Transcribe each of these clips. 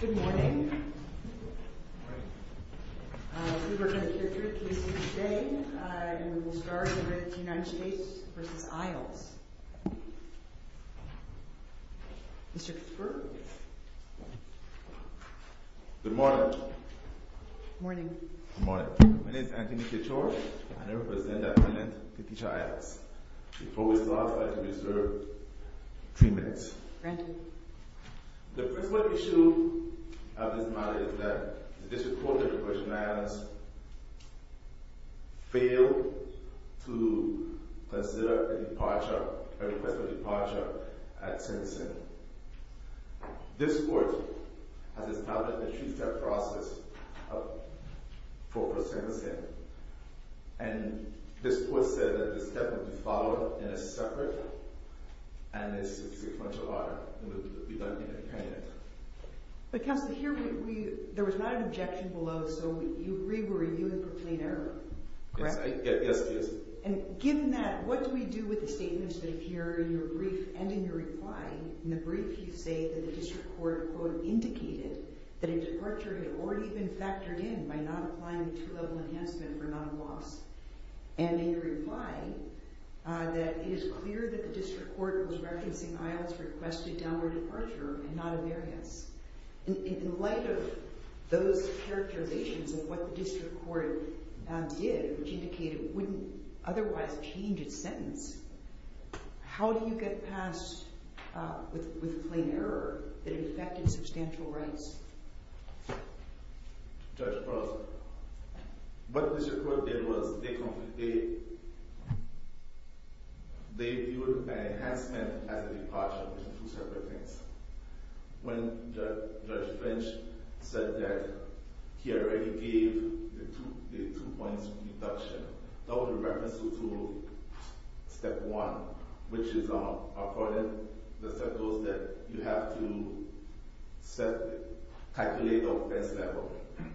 Good morning. We are going to hear three cases today. We will start with the United States v. Iles. Good morning. My name is Anthony Kachor, and I represent the President of the teacher Iles. Before we start, I would like to reserve three minutes. The principal issue of this matter is that the District Court of Iles failed to consider a request for departure at Simpson. This court has established a two-step process for pursuing Simpson. And this court said that this step will be followed in a separate and sequential order. It will be done independently. But Counselor, there was not an objection below, so you agree we're reviewing for clean air, correct? Yes, yes, yes. And given that, what do we do with the statements that appear in your brief and in your reply? In the brief, you say that the District Court, quote, indicated that a departure had already been factored in by not applying a two-level enhancement for not a loss. And in your reply, that it is clear that the District Court was referencing Iles requested downward departure and not a variance. In light of those characterizations and what the District Court did, which indicated it wouldn't otherwise change its sentence, how do you get past with plain error that it affected substantial rights? Judge Prosser, what the District Court did was they viewed an enhancement as a departure between two separate things. When Judge Finch said that he already gave the two points reduction, that was a reference to Step 1, which is according to the sentence that you have to calculate offense level,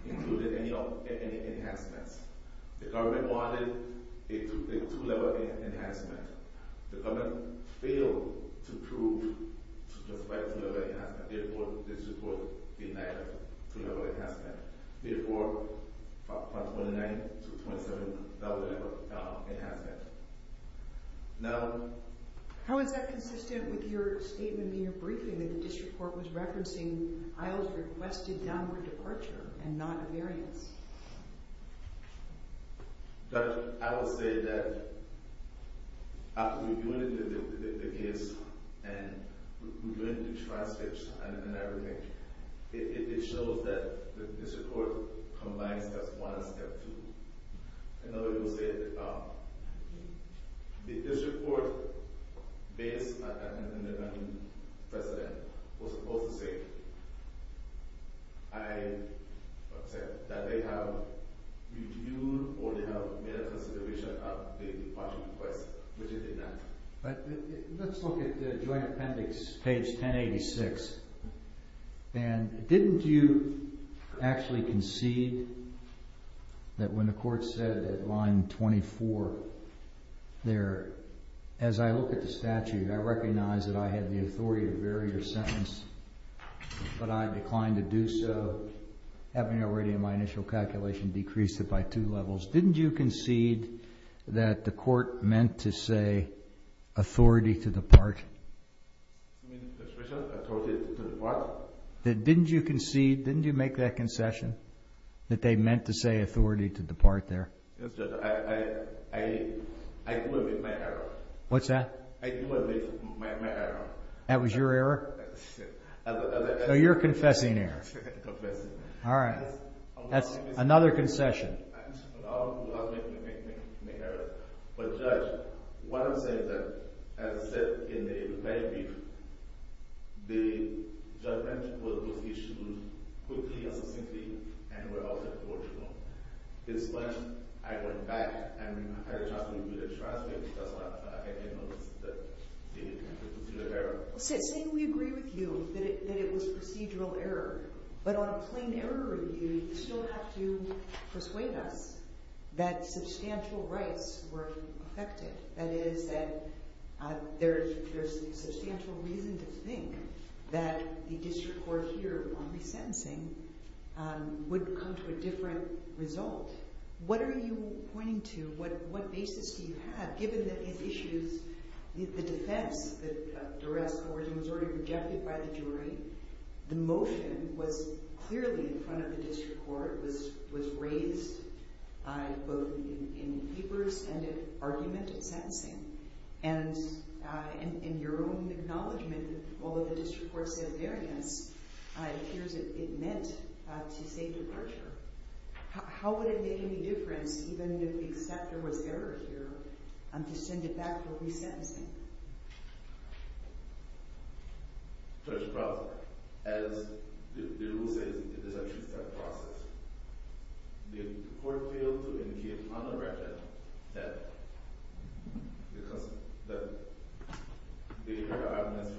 including any enhancements. The government wanted a two-level enhancement. The government failed to prove to justify a two-level enhancement. Therefore, the District Court denied a two-level enhancement. Therefore, from 29 to 27, that was an enhancement. Now... How is that consistent with your statement in your briefing that the District Court was referencing Iles requested downward departure and not a variance? Judge, I will say that after reviewing the case and reviewing the transcripts and everything, it shows that the District Court combines Step 1 and Step 2. Another thing I will say is that the District Court, based on the President, was supposed to say that they have reviewed or made a consideration of the departure request, which it did not. Let's look at the joint appendix, page 1086. Didn't you actually concede that when the court said at line 24 there, as I look at the statute, I recognize that I have the authority to vary the sentence, but I declined to do so, having already in my initial calculation decreased it by two levels. Didn't you concede that the court meant to say authority to depart? Didn't you concede, didn't you make that concession that they meant to say authority to depart there? I do admit my error. What's that? I do admit my error. That was your error? No, your confessing error. All right. That's another concession. I do admit my error. But, Judge, what I'm saying is that, as I said in the very brief, the judgment was issued quickly and succinctly and without any forgery. It's fine. I went back and had a chance to review the transcript. That's why I didn't notice that I made a procedural error. Saying we agree with you that it was procedural error, but on a plain error review, you still have to persuade us that substantial rights were affected. That is that there's substantial reason to think that the district court here on resentencing would come to a different result. But what are you pointing to? What basis do you have, given that these issues, the defense that duress origin was already rejected by the jury? The motion was clearly in front of the district court, was raised both in papers and in argument and sentencing. And in your own acknowledgment, although the district court said variance, it appears it meant to say departure. How would it make any difference, even if the acceptor was error here, to send it back for resentencing? First of all, as the rule says, it is a two-step process. The court failed to indicate on the record that because the evidence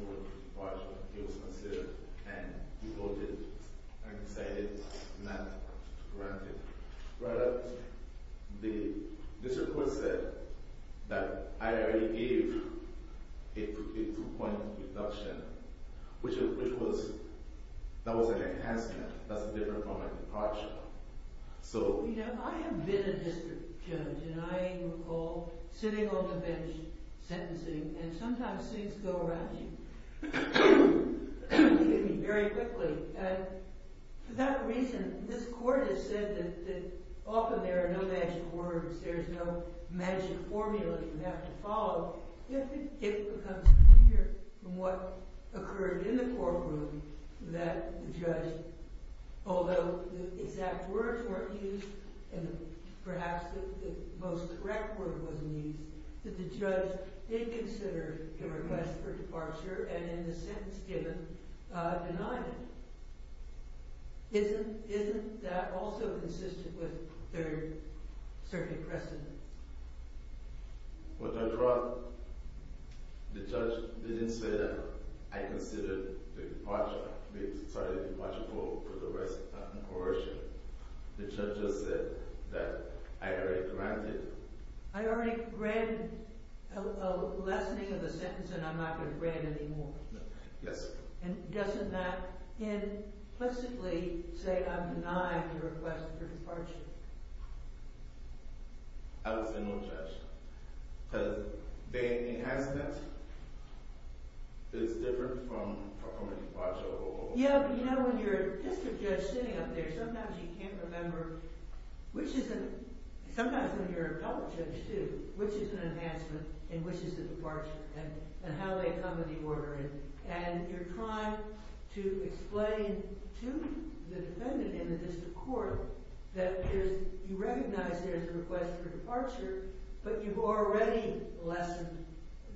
was considered and reported, I can say it's not granted. The district court said that I already gave a two-point deduction, which was an enhancement that's different from a departure. I have been a district judge, and I recall sitting on the bench sentencing, and sometimes seats go around you. Excuse me, very quickly. For that reason, this court has said that often there are no magic words, there's no magic formula you have to follow. It becomes clear from what occurred in the courtroom that the judge, although the exact words weren't used, and perhaps the most direct word wasn't used, that the judge did consider the request for departure, and in the sentence given, denied it. Isn't that also consistent with their circuit precedent? What I brought, the judge didn't say that I considered the departure, sorry, the departure for coercion. The judge just said that I already granted... I already granted a lessening of the sentence, and I'm not going to grant any more. Yes, ma'am. And doesn't that implicitly say I'm denied the request for departure? I would say no, Judge, because the enhancement is different from a departure. Yeah, but you know when you're a district judge sitting up there, sometimes you can't remember which is an... sometimes when you're a public judge, too, which is an enhancement and which is a departure, and how they come in the order. And you're trying to explain to the defendant in the district court that there's... you recognize there's a request for departure, but you've already lessened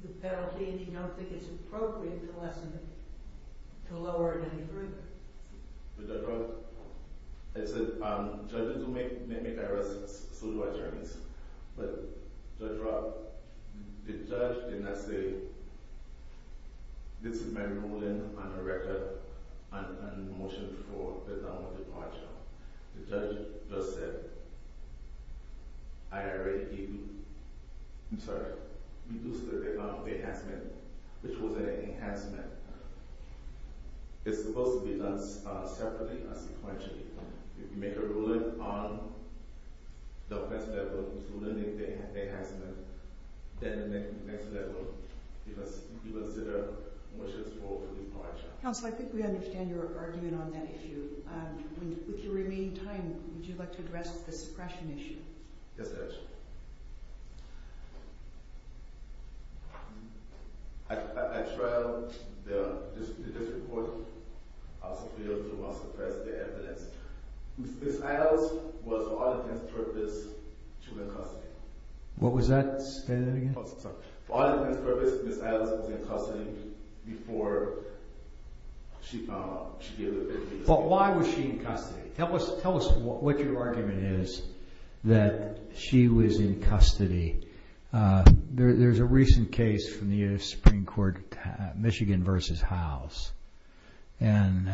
the penalty, and you don't think it's appropriate to lessen it, to lower it any further. The judge... I said, um, judges do make... may make arrests, so do attorneys, but the judge did not say, this is my ruling on a record and motion for the term of departure. The judge just said, I already... I'm sorry. ...reduced the amount of enhancement, which was an enhancement. It's supposed to be done separately, not sequentially. If you make a ruling on the offense level to limit the enhancement, then the next level, you consider motions for departure. Counsel, I think we understand your argument on that issue. With your remaining time, would you like to address the suppression issue? Yes, Judge. I trialed the district court. I was able to suppress the evidence. Ms. Adams was, for all intents and purposes, she was in custody. What was that? Say that again. For all intents and purposes, Ms. Adams was in custody before she gave the... But why was she in custody? Tell us what your argument is that she was in custody. There's a recent case from the U.S. Supreme Court, Michigan v. Howes, and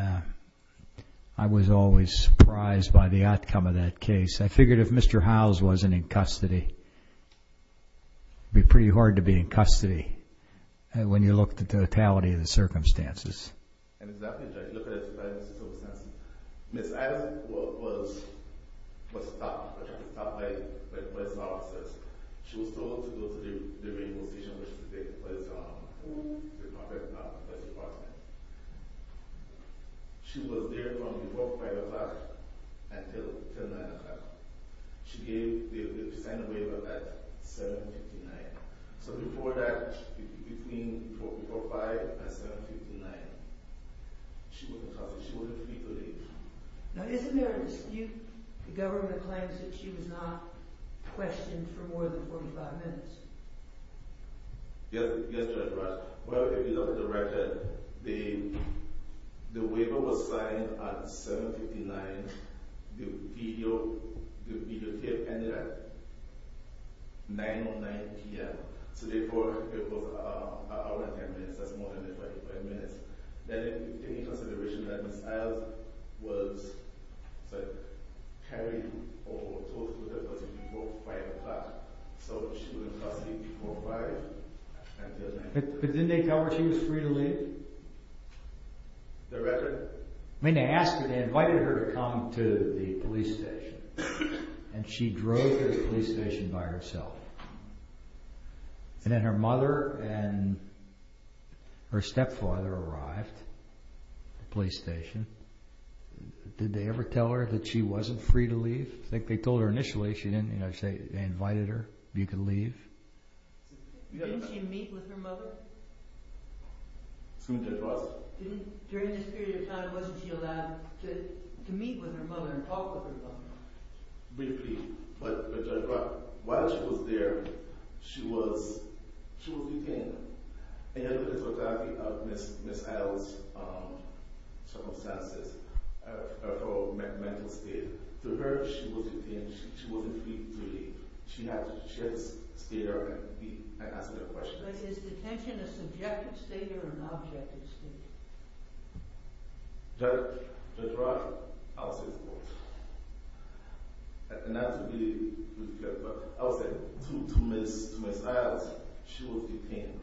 I was always surprised by the outcome of that case. I figured if Mr. Howes wasn't in custody, it would be pretty hard to be in custody when you look at the totality of the circumstances. Exactly, Judge. Look at the totality of the circumstances. Ms. Adams was stopped by the police officers. She was told to go to the railroad station where she was taken to by the Department of Justice. She was there from before 5 o'clock until 9 o'clock. She signed a waiver at 7.59. So before that, between before 5 and 7.59, she wasn't in custody. She wasn't free to leave. Now, isn't there a dispute? The government claims that she was not questioned for more than 45 minutes. Yes, Judge Rush. Well, if you look at the record, the waiver was signed at 7.59. The videotape ended at 9.09 p.m. So it was an hour and 10 minutes. That's more than 45 minutes. Then, in consideration that Ms. Adams was carried or told to leave before 5 o'clock, so she was in custody before 5. But didn't they tell her she was free to leave? The record? I mean, they asked her, they invited her to come to the police station. And she drove to the police station by herself. And then her mother and her stepfather arrived at the police station. Did they ever tell her that she wasn't free to leave? I think they told her initially, they invited her, you can leave. Didn't she meet with her mother? Excuse me, Judge Rush? During this period of time, wasn't she allowed to meet with her mother and talk with her mother? Briefly, but Judge Rush, while she was there, she was detained. And you have to look at Ms. Adams' circumstances, her mental state. To her, she was detained, she wasn't free to leave. She had to stay there and answer their questions. Was his detention a subjective state or an objective state? Judge Rush, I'll say both. Not to be ridiculous, but I'll say, to Ms. Adams, she was detained.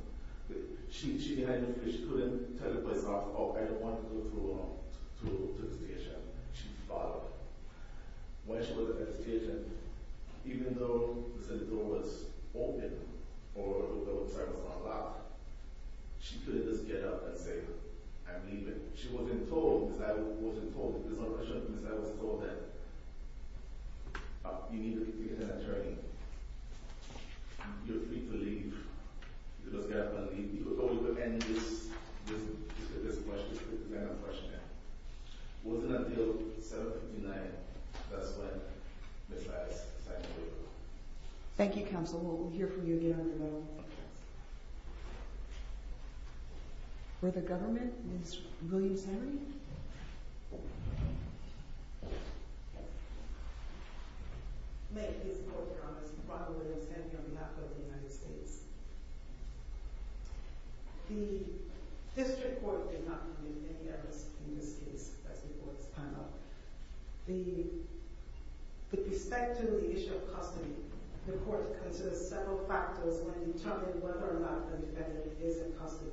She couldn't tell the police officer, oh, I don't want to go to the station. She was barred. When she was at the station, even though the door was open, or the door was unlocked, she couldn't just get up and say, I'm leaving. She wasn't told, Ms. Adams wasn't told. Ms. Adams was told that you need to get an attorney. You're free to leave. You can leave. You can go, but can you just answer this question? It wasn't until 759, that's when Ms. Adams signed the waiver. Thank you, counsel. We'll hear from you again in a moment. Further government, Ms. Williams-Henry? May it please the Court, Your Honor. I'm Ronald Williams-Henry on behalf of the United States. The district court did not commit any errors in this case, as before this panel. With respect to the issue of custody, the court considers several factors when determining whether or not the defendant is in custody.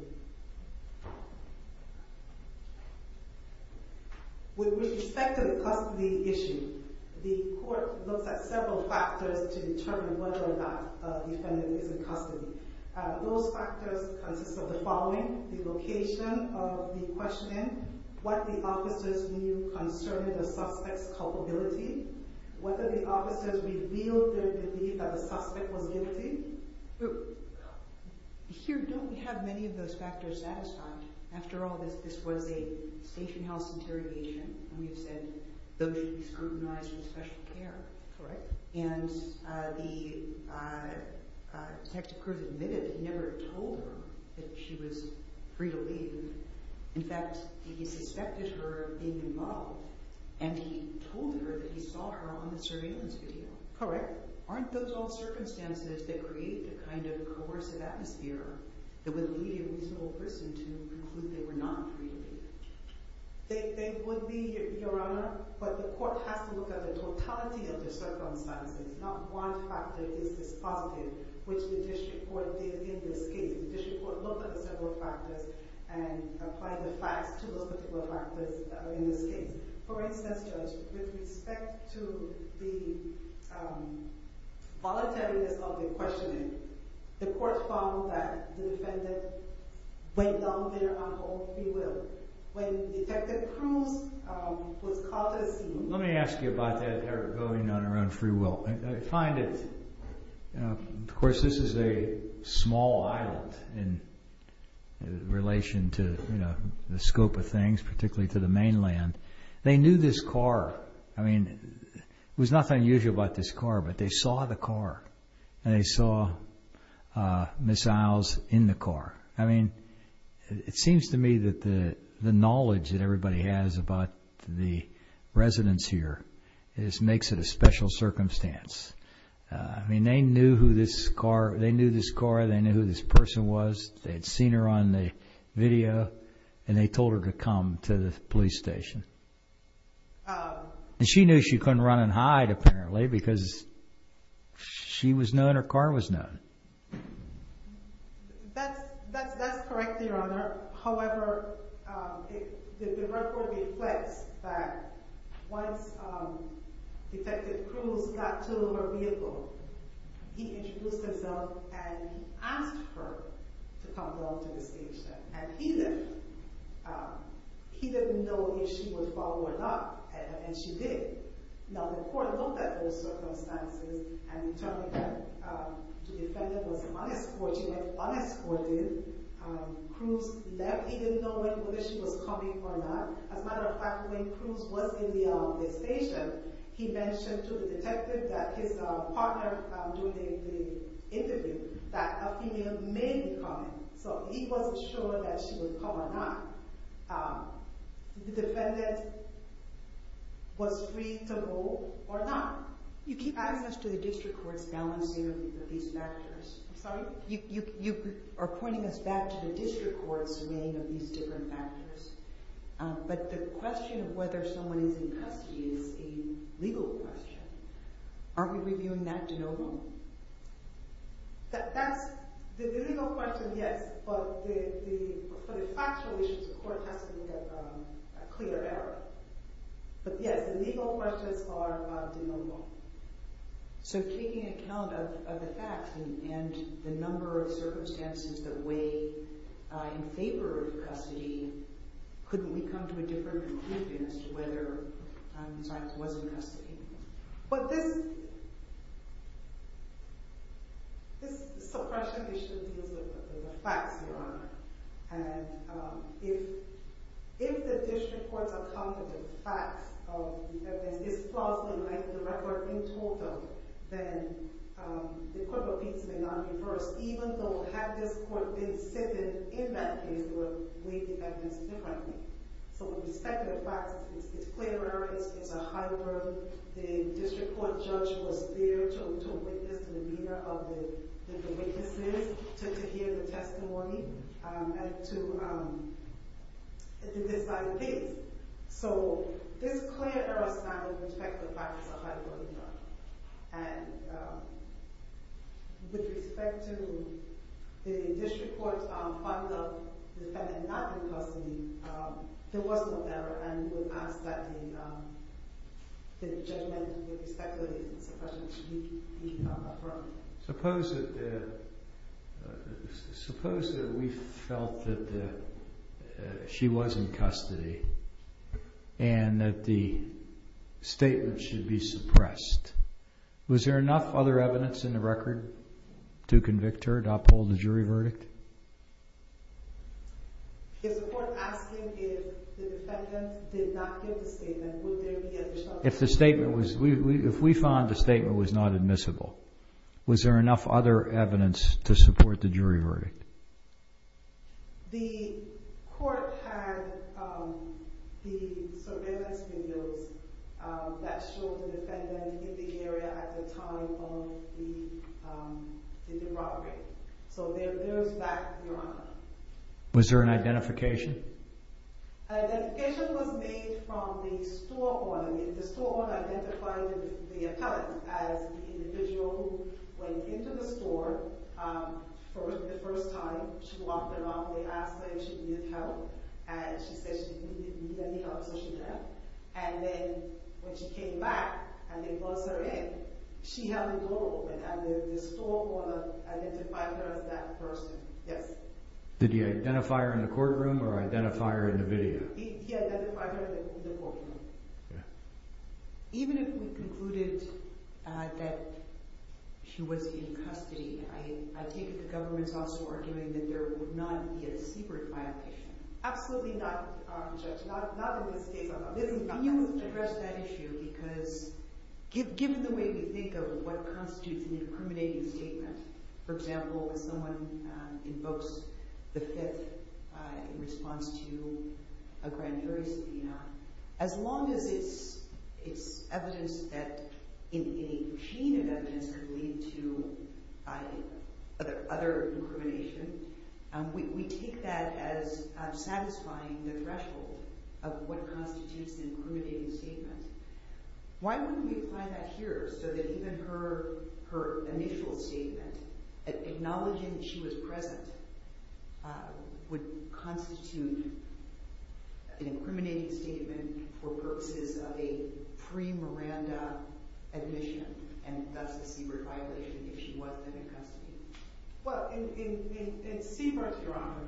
With respect to the custody issue, the court looks at several factors to determine whether or not a defendant is in custody. Those factors consist of the following, the location of the questioning, what the officers knew concerning the suspect's culpability, Here, don't we have many of those factors satisfied? After all, this was a station house interrogation, and we've said those should be scrutinized with special care. Correct. And the detective who was admitted never told her that she was free to leave. In fact, he suspected her of being involved, and he told her that he saw her on the surveillance video. Correct. Aren't those all circumstances that create a kind of coercive atmosphere that would lead a reasonable person to conclude they were not free to leave? They would be, Your Honor. But the court has to look at the totality of the circumstances, not one factor is dispositive, which the district court did in this case. The district court looked at the several factors and applied the facts to those particular factors in this case. For instance, Judge, with respect to the voluntariness of the questioning, the court found that the defendant went down there on her own free will. When Detective Cruz was caught at the scene, Let me ask you about that, Eric, going on her own free will. I find it, of course, this is a small island in relation to the scope of things, particularly to the mainland, they knew this car. I mean, there was nothing unusual about this car, but they saw the car, and they saw Miss Isles in the car. I mean, it seems to me that the knowledge that everybody has about the residents here makes it a special circumstance. I mean, they knew this car, they knew who this person was, they had seen her on the video, and they told her to come to the police station. And she knew she couldn't run and hide, apparently, because she was known, her car was known. That's correct, Your Honor. However, the district court reflects that once Detective Cruz got to her vehicle, he introduced himself and asked her to come down to the station. And he didn't know if she would follow or not, and she did. Now, the court looked at those circumstances and determined that the defendant was unescorted. Cruz left, he didn't know whether she was coming or not. As a matter of fact, when Cruz was in the station, he mentioned to the detective that his partner, during the interview, that a female may be coming. So he wasn't sure that she would come or not. The defendant was free to go or not. You keep pointing us to the district court's balancing of these factors. I'm sorry? You are pointing us back to the district court's weighing of these different factors. But the question of whether someone is in custody is a legal question. Aren't we reviewing that de novo? The legal question, yes, but for the factual issues, the court has to make a clear error. But yes, the legal questions are de novo. So taking account of the facts and the number of circumstances that weigh in favor of custody, couldn't we come to a different conclusion as to whether the defendant was in custody? But this suppression issue deals with the facts, Your Honor. And if the district courts are confident of facts, that there's displosive in the record in total, then the court of appeals may not be first, even though had this court been sitting in that case, it would weigh the evidence differently. So with respect to the facts, it's clear error. It's a hybrid. The district court judge was there to witness, to the media of the witnesses, to hear the testimony and to decide things. So this clear error sound with respect to the facts is a hybrid, Your Honor. And with respect to the district court finding the defendant not in custody, there was no error. And we'll ask that the judgment with respect to the suppression be affirmed. Suppose that we felt that she was in custody and that the statement should be suppressed. Was there enough other evidence in the record to convict her, to uphold the jury verdict? If the court is asking if the defendant did not give the statement, would there be a response? If we found the statement was not admissible, was there enough other evidence to support the jury verdict? The court had the surveillance videos that showed the defendant in the area at the time of the robbery. So there goes back, Your Honor. Was there an identification? An identification was made from the store owner. The store owner went into the store for the first time. She walked around. They asked her if she needed help. And she said she didn't need any help, so she left. And then when she came back and they buzzed her in, she held the door open and the store owner identified her as that person. Yes. Did he identify her in the courtroom or identify her in the video? He identified her in the courtroom. Even if we concluded that she was in custody, I take it the government is also arguing that there would not be a secret violation. Absolutely not, Judge. Not in the states. Can you address that issue? Because given the way we think of what constitutes an incriminating statement, for example, if someone invokes the Fifth in response to a grand jury scene, as long as it's evidence that any chain of evidence could lead to other incrimination, we take that as satisfying the threshold of what constitutes an incriminating statement. Why wouldn't we apply that here so that even her initial statement, acknowledging that she was present, would constitute an incriminating statement for purposes of a pre-Miranda admission and thus a CBRT violation if she wasn't in custody? Well, in CBRT, Your Honor,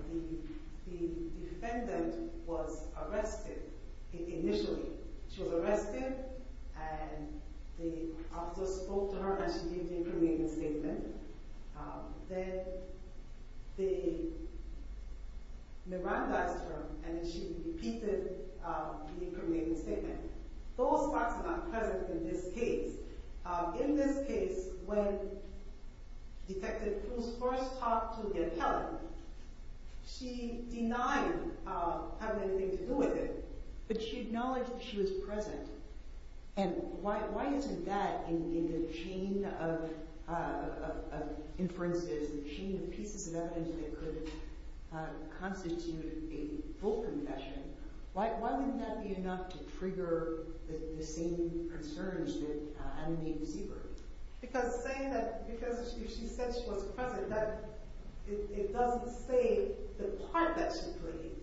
the defendant was arrested initially. She was arrested and the officer spoke to her and she gave the incriminating statement. Then they Mirandized her and she repeated the incriminating statement. Those facts are not present in this case. In this case, when Detective Cruz first talked to the appellant, she denied having anything to do with it, but she acknowledged that she was present. Why isn't that in the chain of inferences, the chain of pieces of evidence that could constitute a full confession, why wouldn't that be enough to trigger the same concerns that animate the CBRT? Because if she said she was present, it doesn't say the part that she played.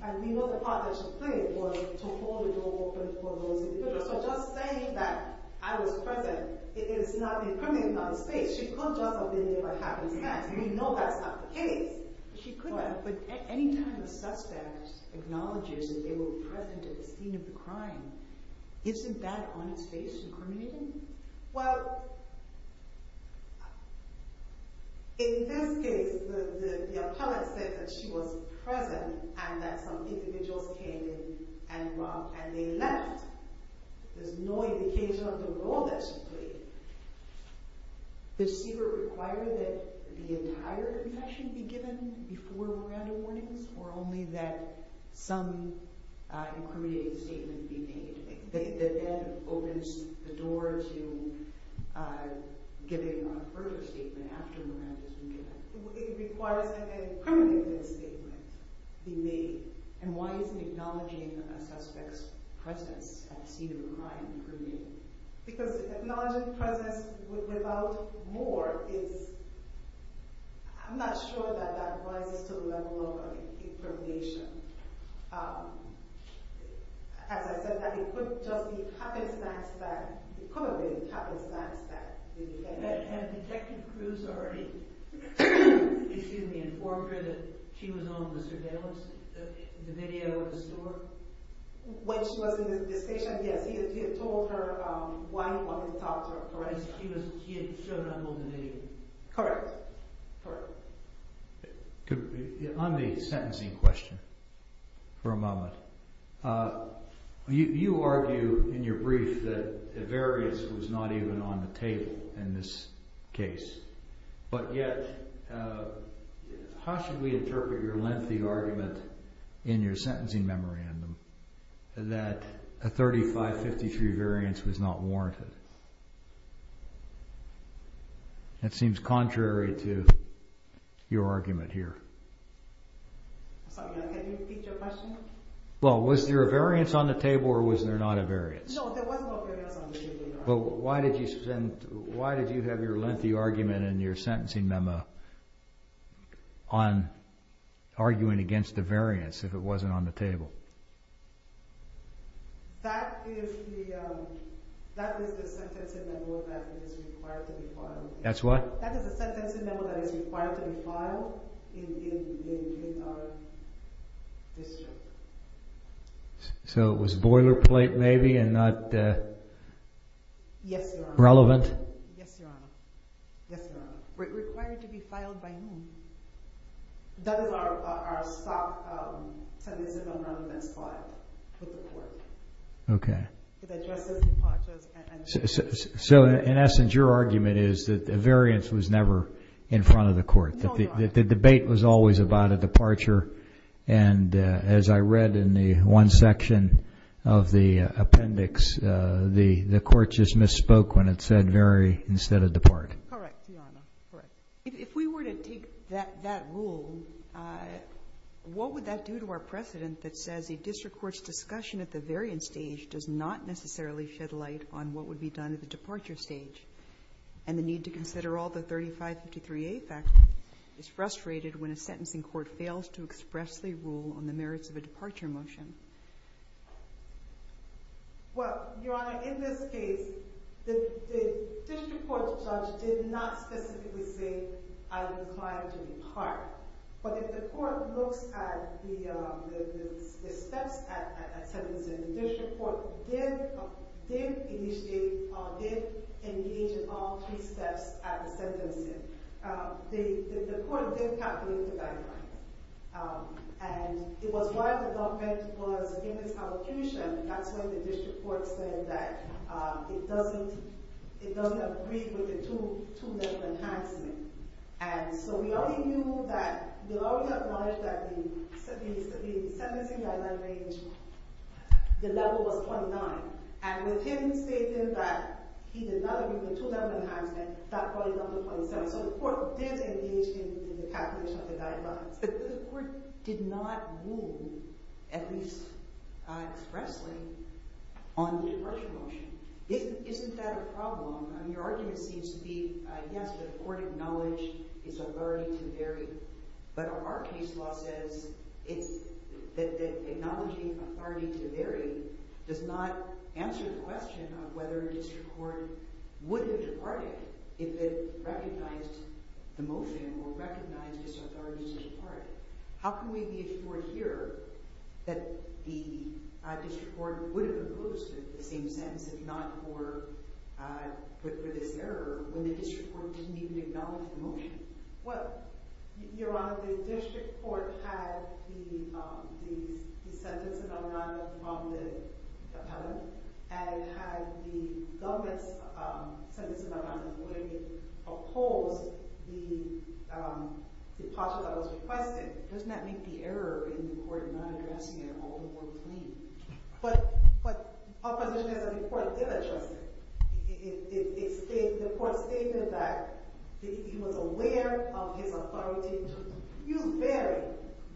And we know the part that she played was to hold the door open for those individuals. So just saying that I was present is not incriminating in other states. She could just have been there by happenstance. We know that's not the case. She could have, but any time a suspect acknowledges that they were present at the scene of the crime, isn't that on its face incriminating? Well, in this case, the appellant said that she was present and that some individuals came and they left. There's no indication of the role that she played. Does CBRT require that the entire confession be given before Miranda warnings, or only that some incriminating statement be made? The appellant opens the door to giving a further statement after Miranda's warning. It requires that an incriminating statement be made. And why isn't acknowledging a suspect's presence at the scene of a crime incriminating? Because acknowledging the presence without more is... I'm not sure that that rises to the level of incrimination. As I said, it could just be happenstance that... It could have been happenstance that... Had Detective Cruz already informed her that she was on the surveillance video of the store? When she was in the station, yes. He had told her why he wanted to talk to her. For instance, he had shown up on the video. Correct. On the sentencing question for a moment, you argue in your brief that a variance was not even on the table in this case. But yet, how should we interpret your lengthy argument in your sentencing memorandum that a 35-53 variance was not warranted? That seems contrary to your argument here. Sorry, can you repeat your question? Well, was there a variance on the table or was there not a variance? No, there was no variance on the table. Well, why did you have your lengthy argument in your sentencing memo on arguing against a variance if it wasn't on the table? That is the sentencing memo that is required to be filed. That's what? That is the sentencing memo that is required to be filed in our district. So it was boilerplate maybe and not relevant? Yes, Your Honor. Required to be filed by whom? That is our stock sentencing memo that's filed with the court. Okay. So in essence, your argument is that the variance was never in front of the court, that the debate was always about a departure, and as I read in the one section of the appendix, the court just misspoke when it said vary instead of depart. Correct, Your Honor, correct. If we were to take that rule, what would that do to our precedent that says a district court's discussion at the variance stage does not necessarily shed light on what would be done at the departure stage and the need to consider all the 3553A factors is frustrated when a sentencing court fails to express their rule on the merits of a departure motion? Well, Your Honor, in this case, the district court's judge did not specifically say, I'm inclined to depart. But if the court looks at the steps at sentencing, the district court did engage in all three steps at the sentencing. The court did calculate the value. And it was why the document was in its allocation, that's why the district court said that it doesn't agree with the two-level enhancement. And so we already knew that, we already acknowledged that the sentencing guideline range, the level was 29. And with him stating that he did not agree with the two-level enhancement, that brought it down to 27. So the court did engage in the calculation of the guidelines. But the court did not rule, at least expressly, on the departure motion. Isn't that a problem? I mean, your argument seems to be, yes, that a court acknowledged its authority to vary. But our case law says that acknowledging authority to vary does not answer the question of whether a district court would have departed if it recognized the motion or recognized its authority to depart. How can we be assured here that the district court would have imposed the same sentence, if not for this error, when the district court didn't even acknowledge the motion? Well, Your Honor, the district court had the sentencing guideline from the appellant and had the government's sentencing guideline where it opposed the departure that was requested. Doesn't that make the error in the court in not addressing it all the more plain? But our position is that the court did address it. The court stated that he was aware of his authority to vary,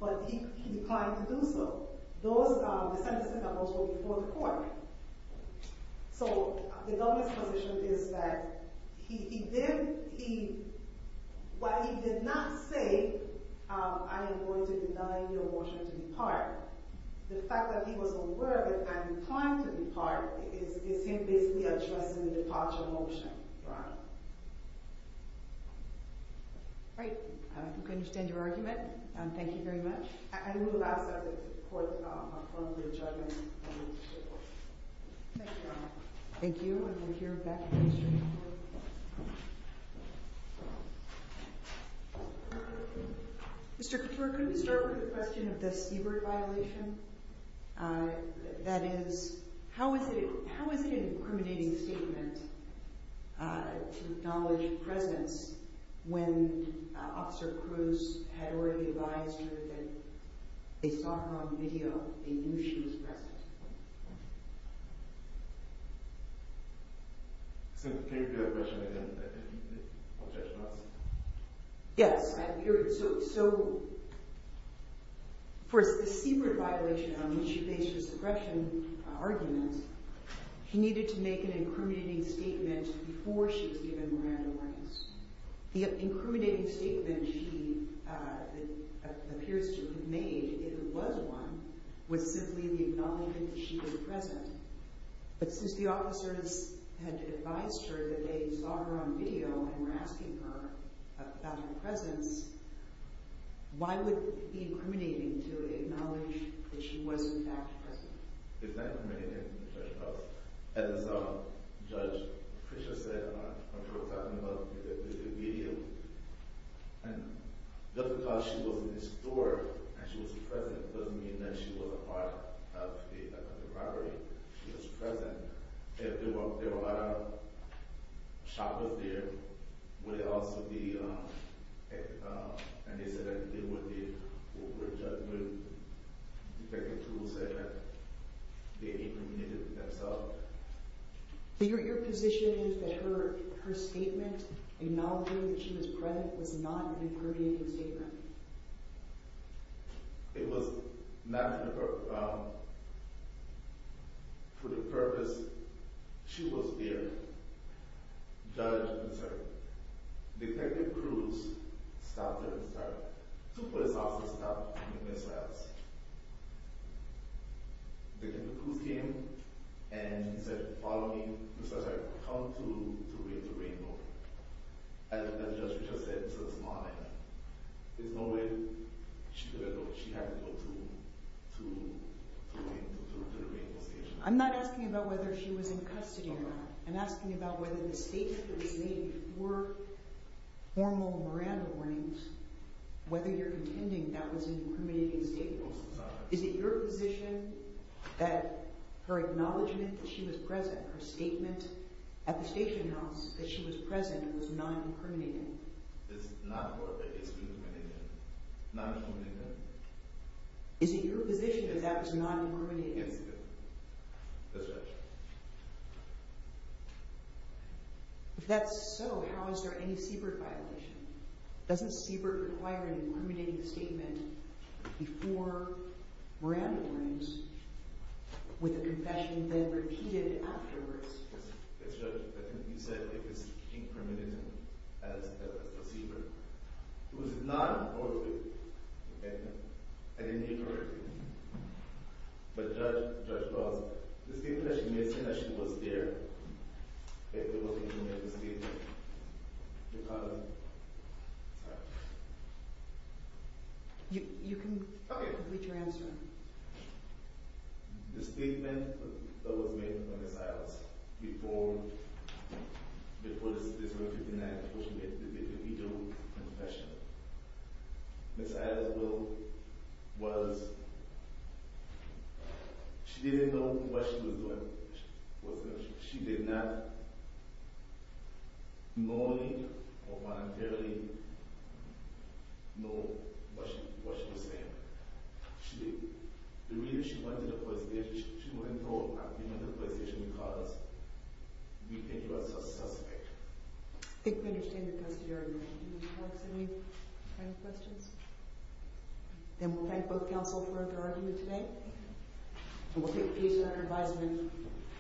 but he declined to do so. The sentencing guidelines were before the court. So the government's position is that while he did not say, I am going to deny your motion to depart, the fact that he was aware and declined to depart is him basically addressing the departure motion, Your Honor. Great. I think I understand your argument. Thank you very much. I will ask that the court confirm the judgment of the district court. Thank you, Your Honor. Thank you, and we'll hear back from the district court. Mr. Couture, could we start with the question of the Siebert violation? That is, how is it an incriminating statement to acknowledge the presence when Officer Cruz had already advised her that they saw her on video, they knew she was present? Can you repeat that question again? Yes. For the Siebert violation, when she faced her suppression argument, she needed to make an incriminating statement before she was given Miranda warnings. The incriminating statement she appears to have made, if it was one, was simply the acknowledgment that she was present. But since the officers had advised her that they saw her on video and were asking her about her presence, why would it be incriminating to acknowledge that she was in fact present? It's not incriminating, Judge Cox. As Judge Fisher said when she was talking about the video, just because she was in the store and she was present doesn't mean that she was a part of the robbery. She was present. If there were a lot of shoppers there, would it also be an incident? Would Judge Cruz say that they incriminated themselves? Your position is that her statement acknowledging that she was present was not an incriminating statement? It was not. For the purpose, she was there. Judge, Detective Cruz stopped her and stopped her. Two police officers stopped her with missiles. Detective Cruz came and said, follow me, come to the Rainbow Station. As Judge Fisher said this morning, there's no way she had to go to the Rainbow Station. I'm not asking about whether she was in custody or not. I'm asking about whether the statements that were made were formal Miranda warnings, whether you're contending that was an incriminating statement. Is it your position that her acknowledgement that she was present, her statement at the station house that she was present, was not incriminating? It's not incriminating. Not incriminating. Is it your position that that was not incriminating? Yes, it is. Yes, Judge. If that's so, how is there any Siebert violation? Doesn't Siebert require an incriminating statement before Miranda warnings with a confession then repeated afterwards? Yes, Judge. You said it was incriminating as a Siebert. It was not incriminating. I didn't mean to hurt you. But, Judge, the statement that she made, the statement that she was there, if it wasn't incriminating, the statement, the condom, sorry. You can complete your answer. The statement that was made for Ms. Adams before this repetition act, before she made the video confession, Ms. Adams was, she didn't know what she was doing. She did not knowingly or voluntarily know what she was saying. She didn't. The reason she went to the police station, she went to the police station because we think you are a suspect. I think we understand the custody argument. Do you have any questions? Then we'll thank both counsel for their argument today. And we'll take a piece of your advisement.